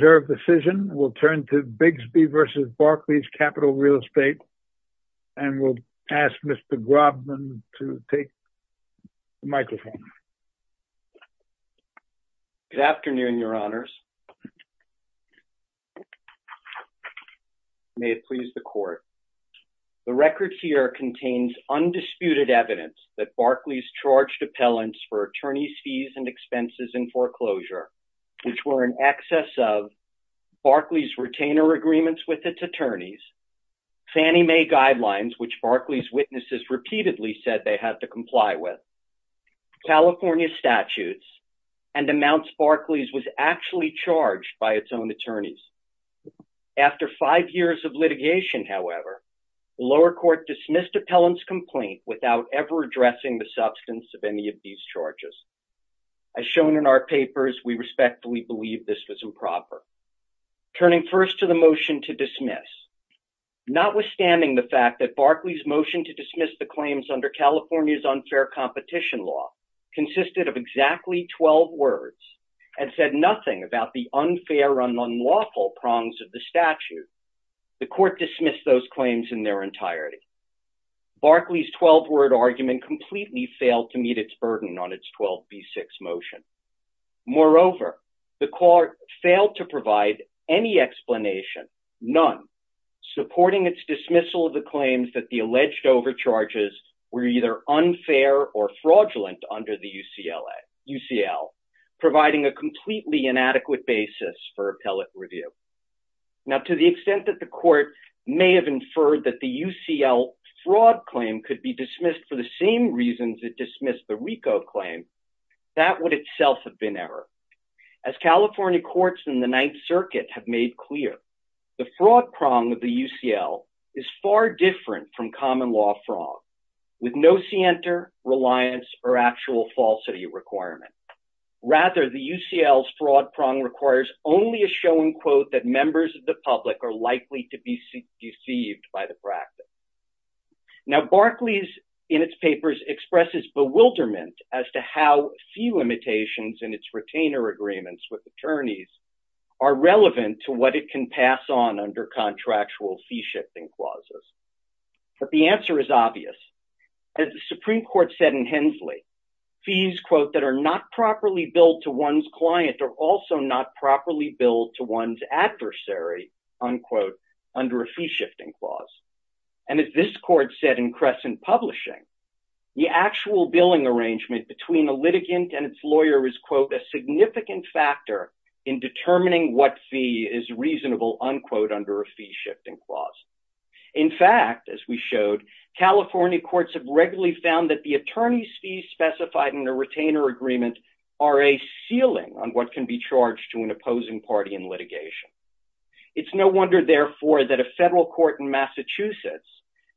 We'll turn to Bigsby v. Barclays Capital Real Estate, and we'll ask Mr. Grobman to take the microphone. Good afternoon, Your Honors. The record here contains undisputed evidence that Barclays charged appellants for attorneys' fees and expenses in foreclosure, which were in excess of Barclays retainer agreements with its attorneys, Fannie Mae guidelines, which Barclays' witnesses repeatedly said they had to comply with, California statutes, and amounts Barclays was actually charged by its own attorneys. After five years of litigation, however, the lower court dismissed appellant's complaint without ever addressing the substance of any of these charges. As shown in our papers, we respectfully believe this was improper. Turning first to the motion to dismiss, notwithstanding the fact that Barclays' motion to dismiss the claims under California's unfair competition law consisted of exactly 12 words and said nothing about the unfair and unlawful prongs of the statute, the court dismissed those claims in their entirety. Barclays' 12-word argument completely failed to meet its burden on its 12b6 motion. Moreover, the court failed to provide any explanation, none, supporting its dismissal of the claims that the alleged overcharges were either unfair or fraudulent under the UCL, providing a completely inadequate basis for appellate review. Now, to the extent that the court may have inferred that the UCL fraud claim could be dismissed for the same reasons it dismissed the RICO claim, that would itself have been error. As California courts in the Ninth Circuit have made clear, the fraud prong of the UCL is far different from common law frong, with no scienter, reliance, or actual falsity requirement. Rather, the UCL's fraud prong requires only a showing quote that members of the public are likely to be deceived by the practice. Now, Barclays, in its papers, expresses bewilderment as to how fee limitations in its retainer agreements with attorneys are relevant to what it can pass on under contractual fee shifting clauses. But the answer is obvious. As the Supreme Court said in Hensley, fees, quote, that are not properly billed to one's client are also not properly billed to one's adversary, unquote, under a fee shifting clause. And as this court said in Crescent Publishing, the actual billing arrangement between a litigant and its lawyer is, quote, a significant factor in determining what fee is reasonable, unquote, under a fee shifting clause. In fact, as we showed, California courts have regularly found that the attorney's fees specified in a retainer agreement are a ceiling on what can be charged to an opposing party in litigation. It's no wonder, therefore, that a federal court in Massachusetts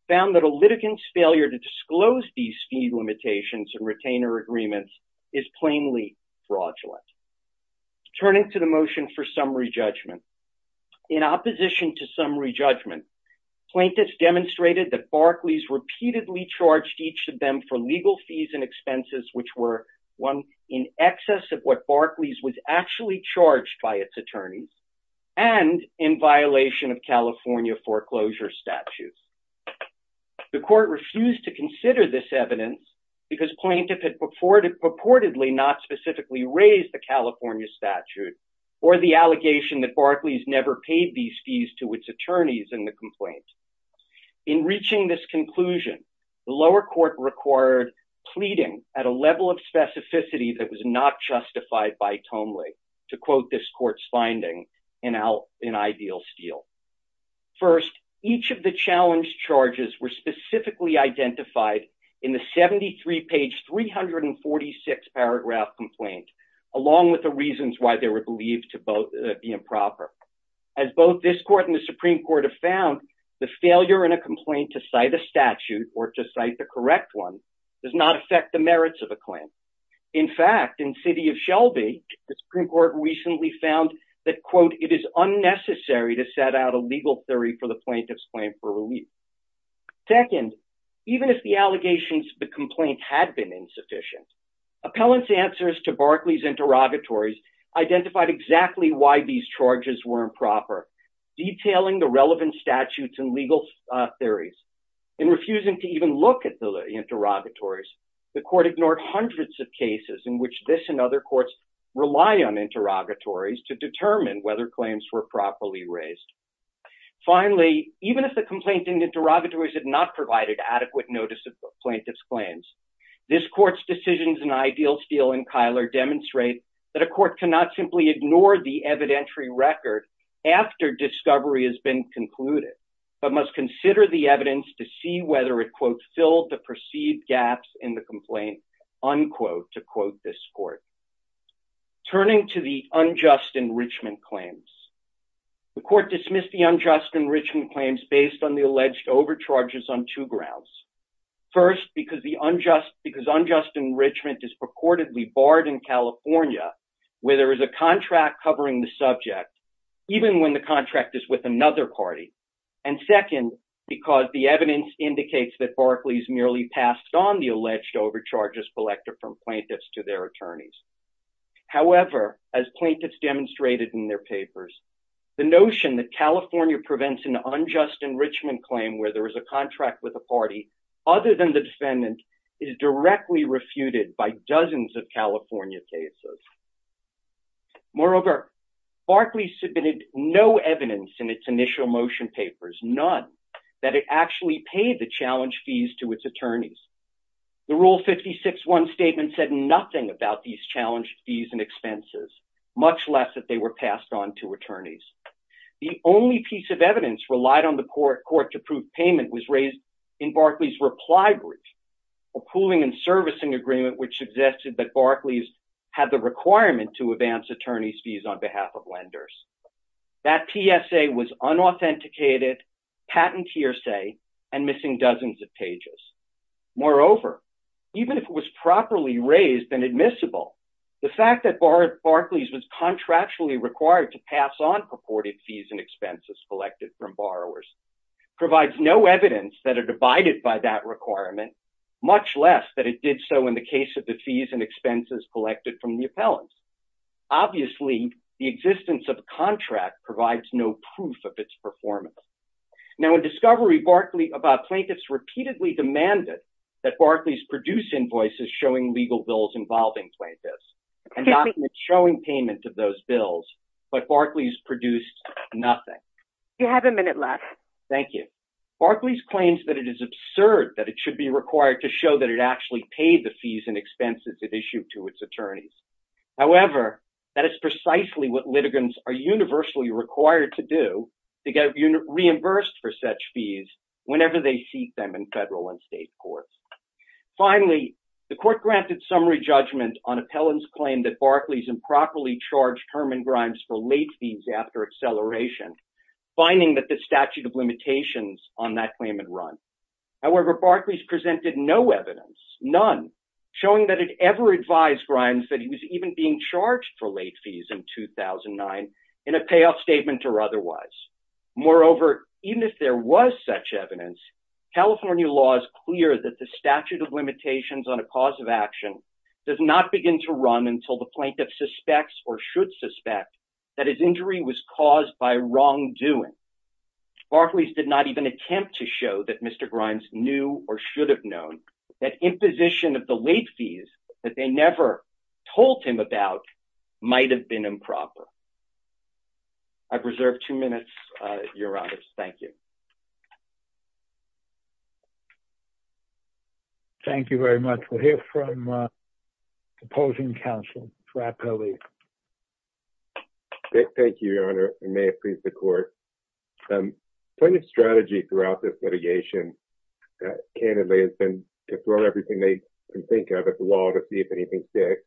found that a litigant's failure to disclose these fee limitations in retainer agreements is plainly fraudulent. Turning to the motion for summary judgment. In opposition to summary judgment, plaintiffs demonstrated that Barclays repeatedly charged each of them for legal fees and expenses which were, one, in excess of what Barclays was actually charged by its attorneys and in violation of California foreclosure statutes. The court refused to consider this evidence because plaintiff had purportedly not specifically raised the California statute or the allegation that Barclays never paid these fees to its attorneys in the complaint. In reaching this conclusion, the lower court required pleading at a level of specificity that was not justified by Tomley to quote this court's finding in ideal steel. First, each of the challenged charges were specifically identified in the 73 page 346 paragraph complaint along with the reasons why they were believed to be improper. As both this court and the Supreme Court have found, the failure in a complaint to cite a statute or to cite the correct one does not affect the merits of a claim. In fact, in city of Shelby, the Supreme Court recently found that, quote, it is unnecessary to set out a legal theory for the plaintiff's claim for relief. Second, even if the allegations of the complaint had been insufficient, appellant's answers to Barclays interrogatories identified exactly why these charges were improper, detailing the relevant statutes and legal theories. In refusing to even look at the interrogatories, the court ignored hundreds of cases in which this and other courts rely on interrogatories to determine whether claims were properly raised. Finally, even if the complaint in the interrogatories had not provided adequate notice of the plaintiff's claims, this court's decisions in ideal steel and Kyler demonstrate that a court cannot simply ignore the evidentiary record after discovery has been concluded, but must consider the evidence to see whether it, quote, filled the perceived gaps in the complaint, unquote, to quote this court. Turning to the unjust enrichment claims, the court dismissed the unjust enrichment claims based on the alleged overcharges on two grounds. First, because unjust enrichment is purportedly barred in California where there is a contract covering the subject, even when the contract is with another party. And second, because the evidence indicates that Barclays merely passed on the alleged overcharges collected from plaintiffs to their attorneys. However, as plaintiffs demonstrated in their papers, the notion that California prevents an unjust enrichment claim where there is a contract with a party other than the defendant is directly refuted by dozens of California cases. Moreover, Barclays submitted no evidence in its initial motion papers, none that it actually paid the challenge fees to its attorneys. The Rule 56-1 statement said nothing about these challenge fees and expenses, much less that they were passed on to attorneys. The only piece of evidence relied on the court to prove payment was raised in Barclays' reply brief, a pooling and servicing agreement which suggested that Barclays had the requirement to advance attorney's fees on behalf of lenders. That PSA was unauthenticated, patent hearsay, and missing dozens of pages. Moreover, even if it was properly raised and admissible, the fact that Barclays was contractually required to pass on purported fees and expenses collected from borrowers provides no evidence that it abided by that requirement, much less that it did so in the case of the fees and expenses collected from the appellants. Obviously, the existence of a contract provides no proof of its performance. Now, in discovery, plaintiffs repeatedly demanded that Barclays produce invoices showing legal bills involving plaintiffs and documents showing payment of those bills, but Barclays produced nothing. You have a minute left. Thank you. Barclays claims that it is absurd that it should be required to show that it actually paid the fees and expenses it issued to its attorneys. However, that is precisely what litigants are universally required to do to get reimbursed for such fees whenever they seek them in federal and state courts. Finally, the court granted summary judgment on appellant's claim that Barclays improperly charged Herman Grimes for late fees after acceleration, finding that the statute of limitations on that claim had run. However, Barclays presented no evidence, none, showing that it ever advised Grimes that he was even being charged for late fees in 2009 in a payoff statement or otherwise. Moreover, even if there was such evidence, California law is clear that the statute of limitations on a cause of action does not begin to run until the plaintiff suspects or should suspect that his injury was caused by wrongdoing. Barclays did not even attempt to show that Mr. Grimes knew or should have known that imposition of the late fees that they never told him about might have been improper. I've reserved two minutes, Your Honors. Thank you. Thank you very much. We'll hear from opposing counsel, Rappelli. Thank you, Your Honor. And may it please the court. Plaintiff's strategy throughout this litigation, candidly, has been to throw everything they can think of at the wall to see if anything sticks,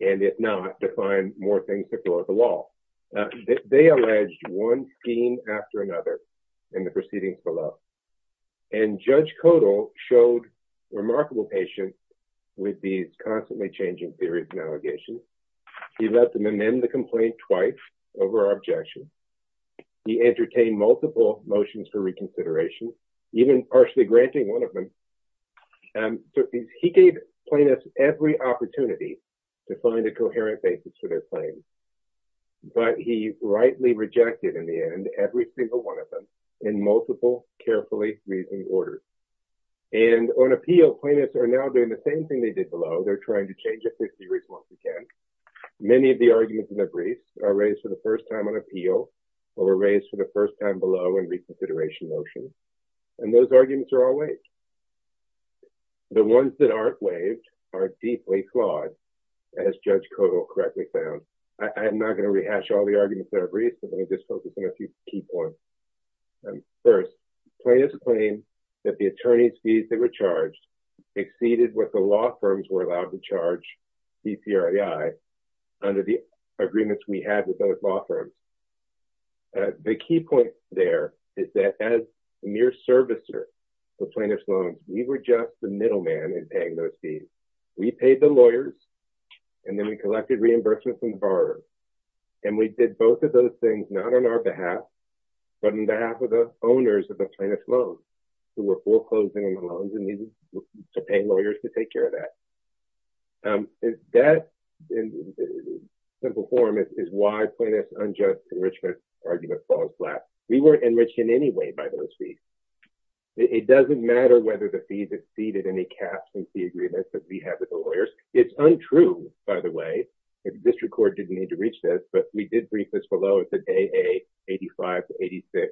and if not, to find more things to throw at the wall. They alleged one scheme after another in the proceedings below. And Judge Kodal showed remarkable patience with these constantly changing theories and allegations. He let them amend the complaint twice over our objection. He entertained multiple motions for reconsideration, even partially granting one of them. He gave plaintiffs every opportunity to find a coherent basis for their claims. But he rightly rejected, in the end, every single one of them in multiple, carefully reasoning orders. And on appeal, plaintiffs are now doing the same thing they did below. They're trying to change the theory as much as they can. Many of the arguments in the briefs are raised for the first time on appeal or were raised for the first time below in reconsideration motions. And those arguments are all waived. The ones that aren't waived are deeply flawed, as Judge Kodal correctly found. I'm not going to rehash all the arguments that are briefed. I'm going to just focus on a few key points. First, plaintiffs claim that the attorney's fees they were charged exceeded what the law firms were allowed to charge CCRII under the agreements we had with those law firms. The key point there is that as mere servicers of plaintiffs' loans, we were just the middleman in paying those fees. We paid the lawyers, and then we collected reimbursements from the borrower. And we did both of those things not on our behalf, but on behalf of the owners of the plaintiff's loans, who were foreclosing on the loans and needed to pay lawyers to take care of that. That, in simple form, is why plaintiff's unjust enrichment argument falls flat. We weren't enriched in any way by those fees. It doesn't matter whether the fees exceeded any cap from the agreements that we had with the lawyers. It's untrue, by the way. The district court didn't need to reach this, but we did brief this below. It said AA85 to 86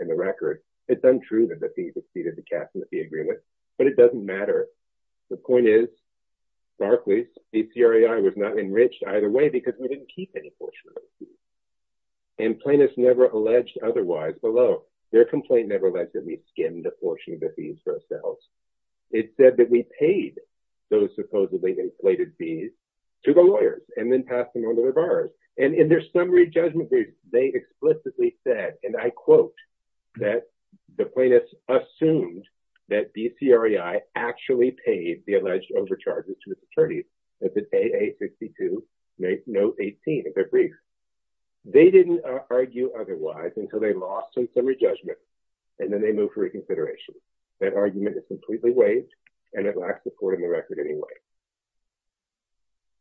in the record. It's untrue that the fees exceeded the cap from the agreement, but it doesn't matter. The point is, starkly, CCRII was not enriched either way because we didn't keep any portion of those fees. And plaintiffs never alleged otherwise below. Their complaint never alleged that we skimmed a portion of the fees for ourselves. It said that we paid those supposedly inflated fees to the lawyers and then passed them on to the buyers. And in their summary judgment brief, they explicitly said, and I quote, that the plaintiffs assumed that DCREI actually paid the alleged overcharges to its attorneys. That's at AA62, note 18 of their brief. They didn't argue otherwise until they lost in summary judgment, and then they moved for reconsideration. That argument is completely waived, and it lacks support in the record anyway.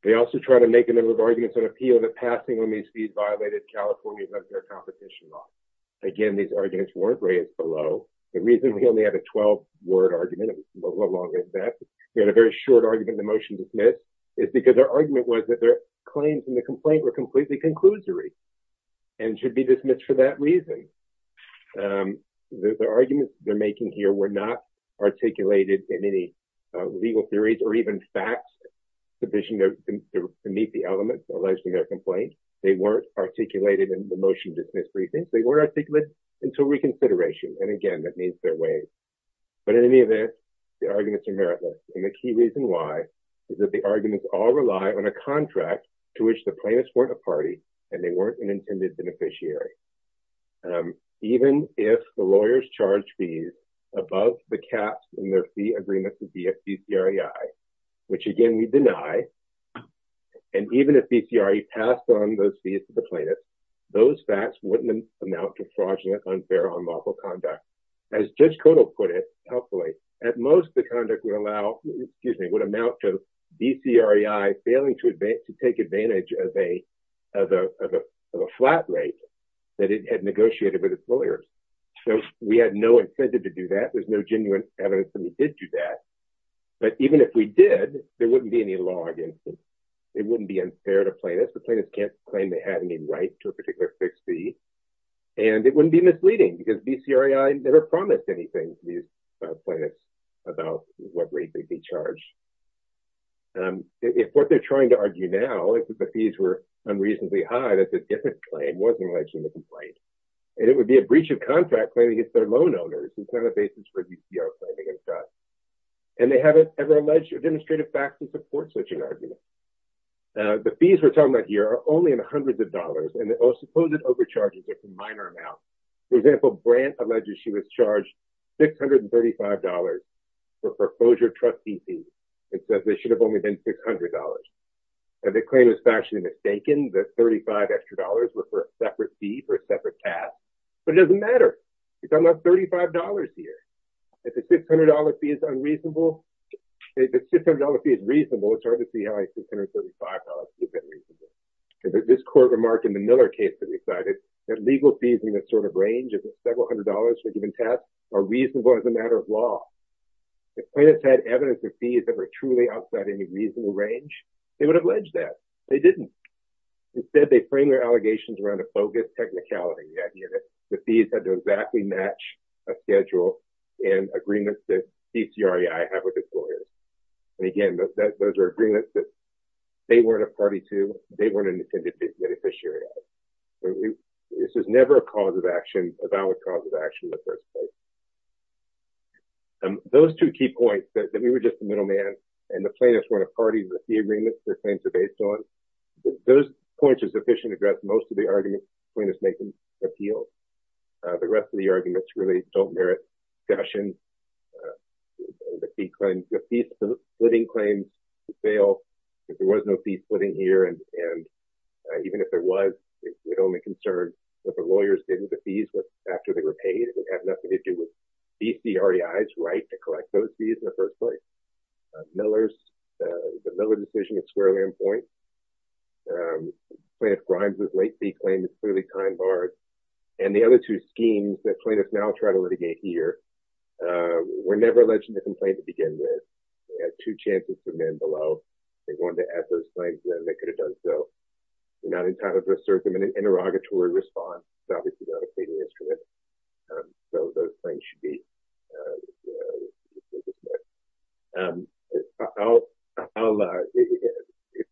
They also tried to make a number of arguments on appeal that passing on these fees violated California's unfair competition law. Again, these arguments weren't raised below. The reason we only had a 12-word argument, it was no longer in effect. We had a very short argument in the motion to submit. It's because their argument was that their claims in the complaint were completely conclusory and should be dismissed for that reason. The arguments they're making here were not articulated in any legal theories or even facts sufficient to meet the elements alleged in their complaint. They weren't articulated in the motion to dismiss briefings. They weren't articulated until reconsideration, and again, that means they're waived. But in any event, the arguments are meritless, and the key reason why is that the arguments all rely on a contract to which the plaintiffs weren't a party and they weren't an intended beneficiary. Even if the lawyers charged fees above the caps in their fee agreement to be a BCREI, which, again, we deny, and even if BCREI passed on those fees to the plaintiffs, those facts wouldn't amount to fraudulent, unfair, or unlawful conduct. As Judge Kotel put it, at most, the conduct would amount to BCREI failing to take advantage of a flat rate that it had negotiated with its lawyers. So we had no incentive to do that. There's no genuine evidence that we did do that. But even if we did, there wouldn't be any law against it. It wouldn't be unfair to plaintiffs. The plaintiffs can't claim they had any right to a particular fixed fee. And it wouldn't be misleading because BCREI never promised anything to these plaintiffs about what rate they'd be charged. If what they're trying to argue now is that the fees were unreasonably high, that's a different claim. It wasn't alleged in the complaint. And it would be a breach of contract claiming it's their loan owners. It's not a basis for BCREI claiming it's us. And they haven't ever alleged or demonstrated facts that support such an argument. The fees we're talking about here are only in the hundreds of dollars. And the supposed overcharges, it's a minor amount. For example, Brandt alleges she was charged $635 for foreclosure trustee fees. It says they should have only been $600. And the claim is factually mistaken, that $35 extra dollars were for a separate fee for a separate task. But it doesn't matter. We're talking about $35 here. If a $600 fee is unreasonable, if a $600 fee is reasonable, it's hard to see how a $635 fee is unreasonable. This court remarked in the Miller case that we cited that legal fees in this sort of range, if it's several hundred dollars for a given task, are reasonable as a matter of law. If plaintiffs had evidence of fees that were truly outside any reasonable range, they would have alleged that. They didn't. Instead, they frame their allegations around a bogus technicality, the idea that the fees had to exactly match a schedule and agreements that PCREI have with its lawyers. And again, those are agreements that they weren't a party to, they weren't an intended beneficiary of. This was never a cause of action, a valid cause of action in the first place. Those two key points, that we were just a middleman and the plaintiffs weren't a party to the agreements their claims are based on, those points are sufficient to address most of the arguments plaintiffs make in appeals. The rest of the arguments really don't merit discussion. The fee splitting claims fail. If there was no fee splitting here, and even if there was, it only concerned that the lawyers didn't get the fees after they were paid. It had nothing to do with PCREI's right to collect those fees in the first place. Miller's, the Miller decision is squarely in point. Plaintiff Grimes' late fee claim is clearly time barred. And the other two schemes that plaintiffs now try to litigate here, were never alleged in the complaint to begin with. They had two chances for men below. They wanted to add those claims then, they could have done so. They're not entitled to assert them in an interrogatory response. It's obviously not a pleading instrument. So those claims should be dismissed.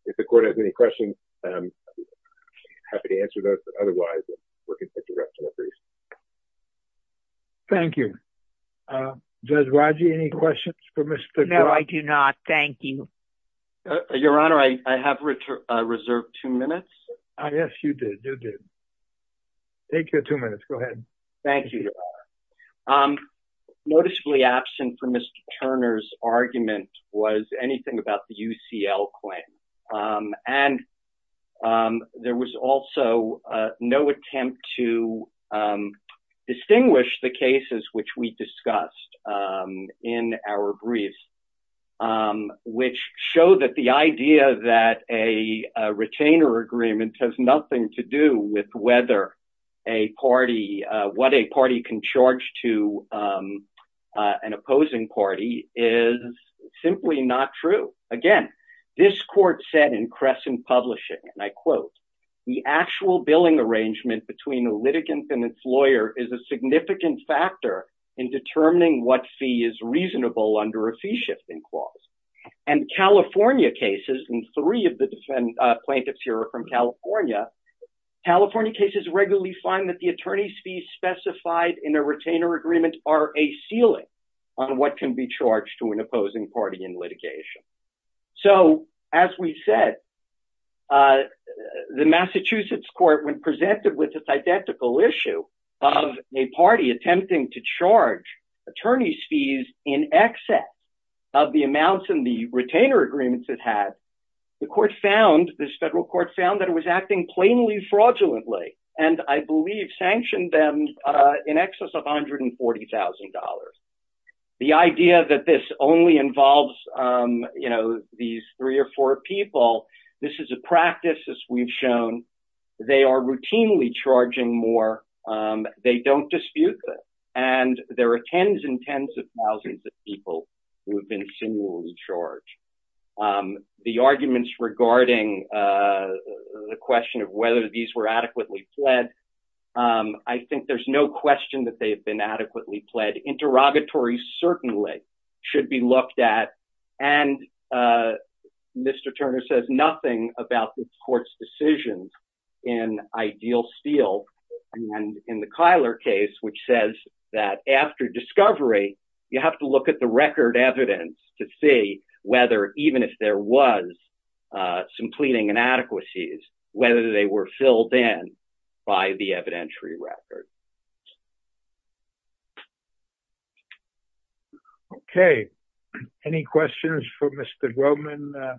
If the court has any questions, I'm happy to answer those. Otherwise, we're going to take the rest of the briefs. Thank you. Does Raji have any questions for Mr. Grimes? No, I do not. Thank you. Your Honor, I have reserved two minutes. Yes, you did. You did. Take your two minutes. Go ahead. Thank you, Your Honor. Noticeably absent from Mr. Turner's argument was anything about the UCL claim. And there was also no attempt to distinguish the cases which we discussed in our briefs, which show that the idea that a retainer agreement has nothing to do with whether a party, what a party can charge to an opposing party is simply not true. Again, this court said in Crescent Publishing, and I quote, the actual billing arrangement between a litigant and its lawyer is a significant factor in determining what fee is reasonable under a fee shifting clause. And California cases, and three of the plaintiffs here are from California, California cases regularly find that the attorney's fees specified in a retainer agreement are a ceiling on what can be charged to an opposing party in litigation. So, as we said, the Massachusetts court when presented with this identical issue of a party attempting to charge attorney's fees in excess of the amounts in the retainer agreements it has, the court found, this federal court found that it was acting plainly fraudulently, and I believe sanctioned them in excess of $140,000. The idea that this only involves, you know, these three or four people, this is a practice as we've shown, they are routinely charging more, they don't dispute this, and there are tens and tens of thousands of people who have been singularly charged. The arguments regarding the question of whether these were adequately pled, I think there's no question that they've been adequately pled. Interrogatory certainly should be looked at. And Mr. Turner says nothing about this court's decisions in Ideal Steel and in the Kyler case, which says that after discovery, you have to look at the record evidence to see whether even if there was some pleading inadequacies, whether they were filled in by the evidentiary record. Okay. Any questions for Mr. Groman?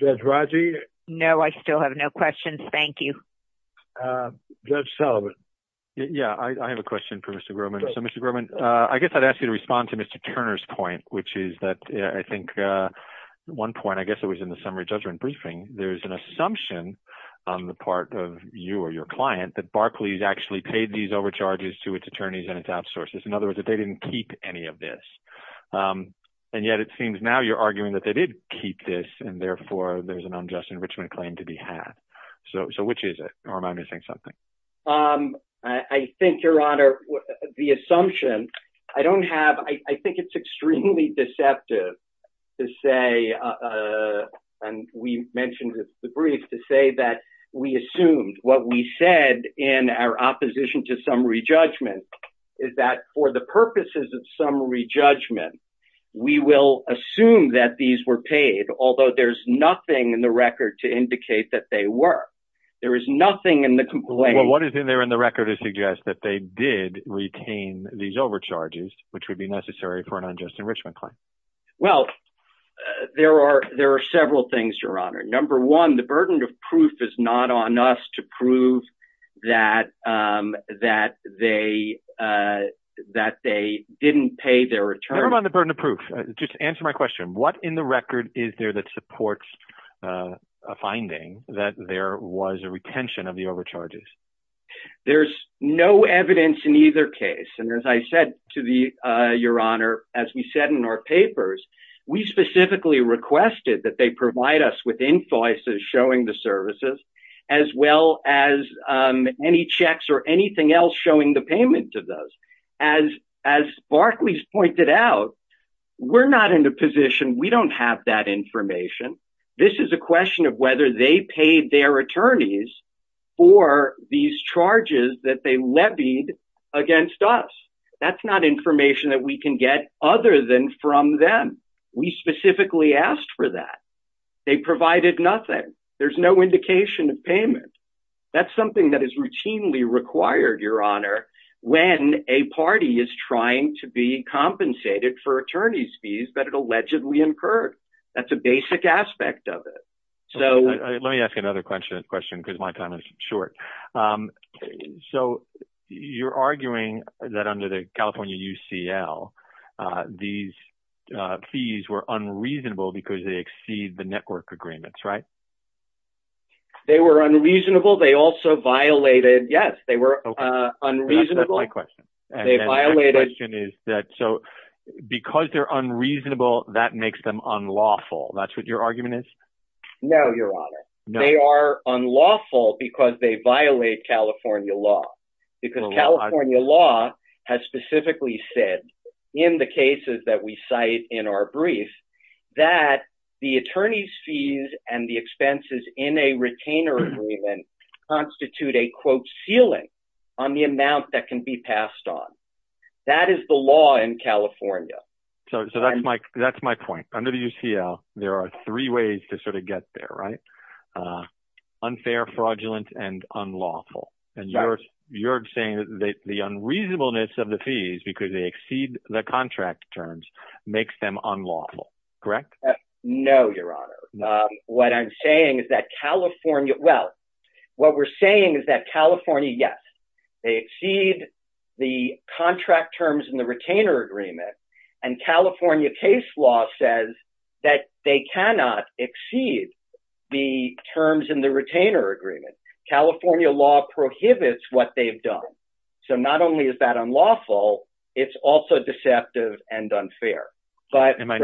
Judge Raji? No, I still have no questions. Thank you. Judge Sullivan. Yeah, I have a question for Mr. Groman. So, Mr. Groman, I guess I'd ask you to respond to Mr. Turner's point, which is that I think one point, I guess it was in the summary judgment briefing. There's an assumption on the part of you or your client that Barclays actually paid these overcharges to its attorneys and its outsourcers. In other words, that they didn't keep any of this. And yet it seems now you're arguing that they did keep this, and therefore there's an unjust enrichment claim to be had. So which is it? Or am I missing something? I think, Your Honor, the assumption I don't have, I think it's extremely deceptive to say, and we mentioned the brief, to say that we assumed what we said in our opposition to summary judgment is that for the purposes of summary judgment, we will assume that these were paid, although there's nothing in the record to indicate that they were. There is nothing in the complaint. Well, what is in there in the record to suggest that they did retain these overcharges, which would be necessary for an unjust enrichment claim? Well, there are several things, Your Honor. Number one, the burden of proof is not on us to prove that they didn't pay their attorneys. Never mind the burden of proof. Just answer my question. What in the record is there that supports a finding that there was a retention of the overcharges? There's no evidence in either case. And as I said to Your Honor, as we said in our papers, we specifically requested that they provide us with invoices showing the services, as well as any checks or anything else showing the payment of those. As Barclays pointed out, we're not in a position, we don't have that information. This is a question of whether they paid their attorneys for these charges that they levied against us. That's not information that we can get other than from them. We specifically asked for that. They provided nothing. There's no indication of payment. That's something that is routinely required, Your Honor, when a party is trying to be compensated for attorney's fees that it allegedly incurred. That's a basic aspect of it. So let me ask you another question because my time is short. So you're arguing that under the California UCL, these fees were unreasonable because they exceed the network agreements, right? They were unreasonable. They also violated. Yes, they were unreasonable. My question is that so because they're unreasonable, that makes them unlawful. That's what your argument is. No, Your Honor. They are unlawful because they violate California law. Because California law has specifically said in the cases that we cite in our brief that the attorney's fees and the expenses in a retainer agreement constitute a, quote, ceiling on the amount that can be passed on. That is the law in California. So that's my point. Under the UCL, there are three ways to sort of get there, right? Unfair, fraudulent, and unlawful. And you're saying that the unreasonableness of the fees because they exceed the contract terms makes them unlawful, correct? No, Your Honor. What I'm saying is that California, well, what we're saying is that California, yes, they exceed the contract terms in the retainer agreement. And California case law says that they cannot exceed the terms in the retainer agreement. California law prohibits what they've done. So not only is that unlawful, it's also deceptive and unfair. And my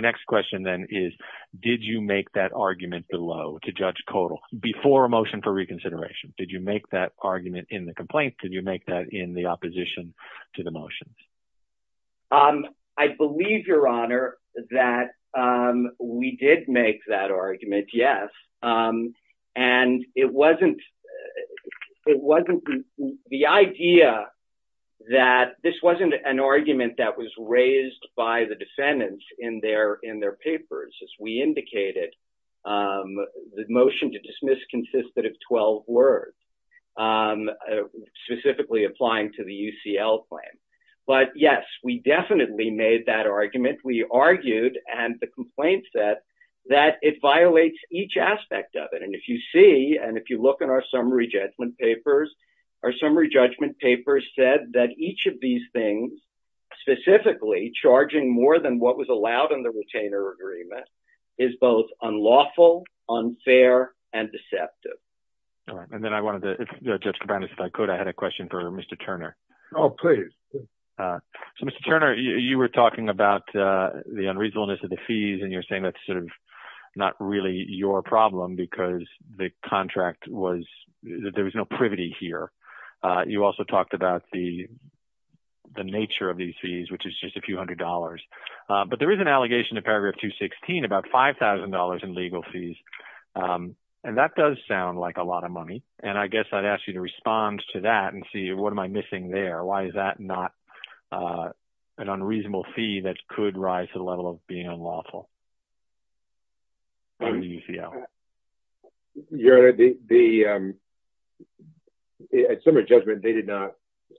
next question then is, did you make that argument below to Judge Kodal before a motion for reconsideration? Did you make that argument in the complaint? Did you make that in the opposition to the motions? I believe, Your Honor, that we did make that argument, yes. And it wasn't the idea that this wasn't an argument that was raised by the defendants in their papers. As we indicated, the motion to dismiss consisted of 12 words, specifically applying to the UCL claim. But, yes, we definitely made that argument. We argued, and the complaint said, that it violates each aspect of it. And if you see and if you look at our summary judgment papers, our summary judgment papers said that each of these things, specifically charging more than what was allowed in the retainer agreement, is both unlawful, unfair, and deceptive. All right. And then I wanted to, Judge Kabanis, if I could, I had a question for Mr. Turner. Oh, please. So, Mr. Turner, you were talking about the unreasonableness of the fees, and you're saying that's sort of not really your problem because the contract was – there was no privity here. You also talked about the nature of these fees, which is just a few hundred dollars. But there is an allegation in paragraph 216 about $5,000 in legal fees, and that does sound like a lot of money. And I guess I'd ask you to respond to that and see what am I missing there? Why is that not an unreasonable fee that could rise to the level of being unlawful? Your Honor, the – at summary judgment, they did not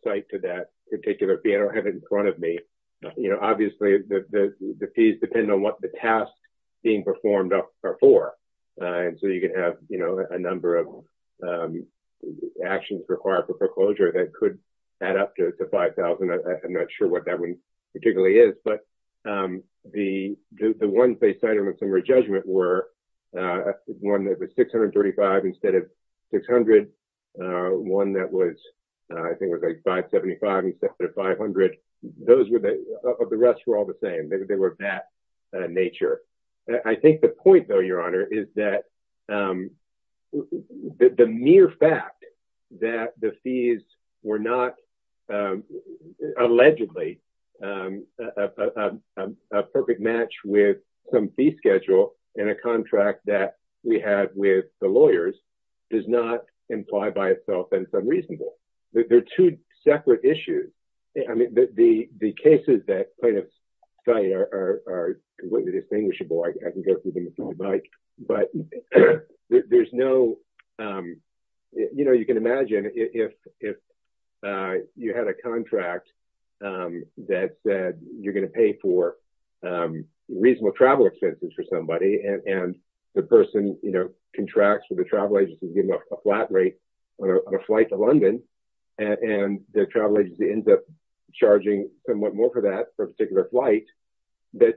cite to that particular fee. I don't have it in front of me. Obviously, the fees depend on what the tasks being performed are for. And so you can have, you know, a number of actions required for foreclosure that could add up to $5,000. I'm not sure what that one particularly is. But the ones they cited in the summary judgment were one that was $635 instead of $600, one that was – I think it was like $575 instead of $500. Those were the – the rest were all the same. They were of that nature. I think the point, though, Your Honor, is that the mere fact that the fees were not allegedly a perfect match with some fee schedule in a contract that we had with the lawyers does not imply by itself that it's unreasonable. They're two separate issues. I mean, the cases that plaintiffs cite are completely distinguishable. I can go through them if I'd like. But there's no – you know, you can imagine if you had a contract that said you're going to pay for reasonable travel expenses for somebody and the person, you know, contracts with the travel agency to give them a flat rate on a flight to London and the travel agency ends up charging somewhat more for that for a particular flight, that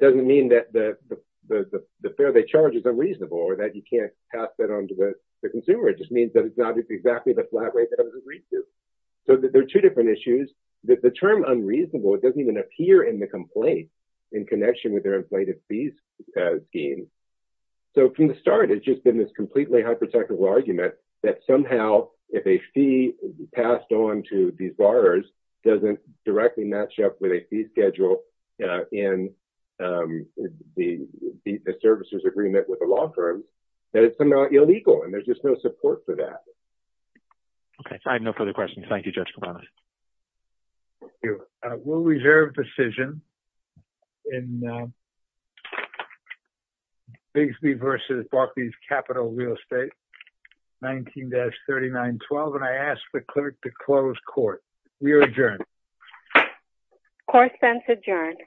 doesn't mean that the fare they charge is unreasonable or that you can't pass that on to the consumer. It just means that it's not exactly the flat rate that it was agreed to. So there are two different issues. The term unreasonable, it doesn't even appear in the complaint in connection with their inflated fees scheme. So from the start, it's just been this completely hypothetical argument that somehow if a fee passed on to these lawyers doesn't directly match up with a fee schedule in the services agreement with a law firm, that it's somehow illegal and there's just no support for that. Okay. I have no further questions. Thank you, Judge Kavanaugh. Thank you. We'll reserve decision in Bixby v. Barclays Capital Real Estate, 19-3912, and I ask the clerk to close court. We are adjourned. Court is adjourned.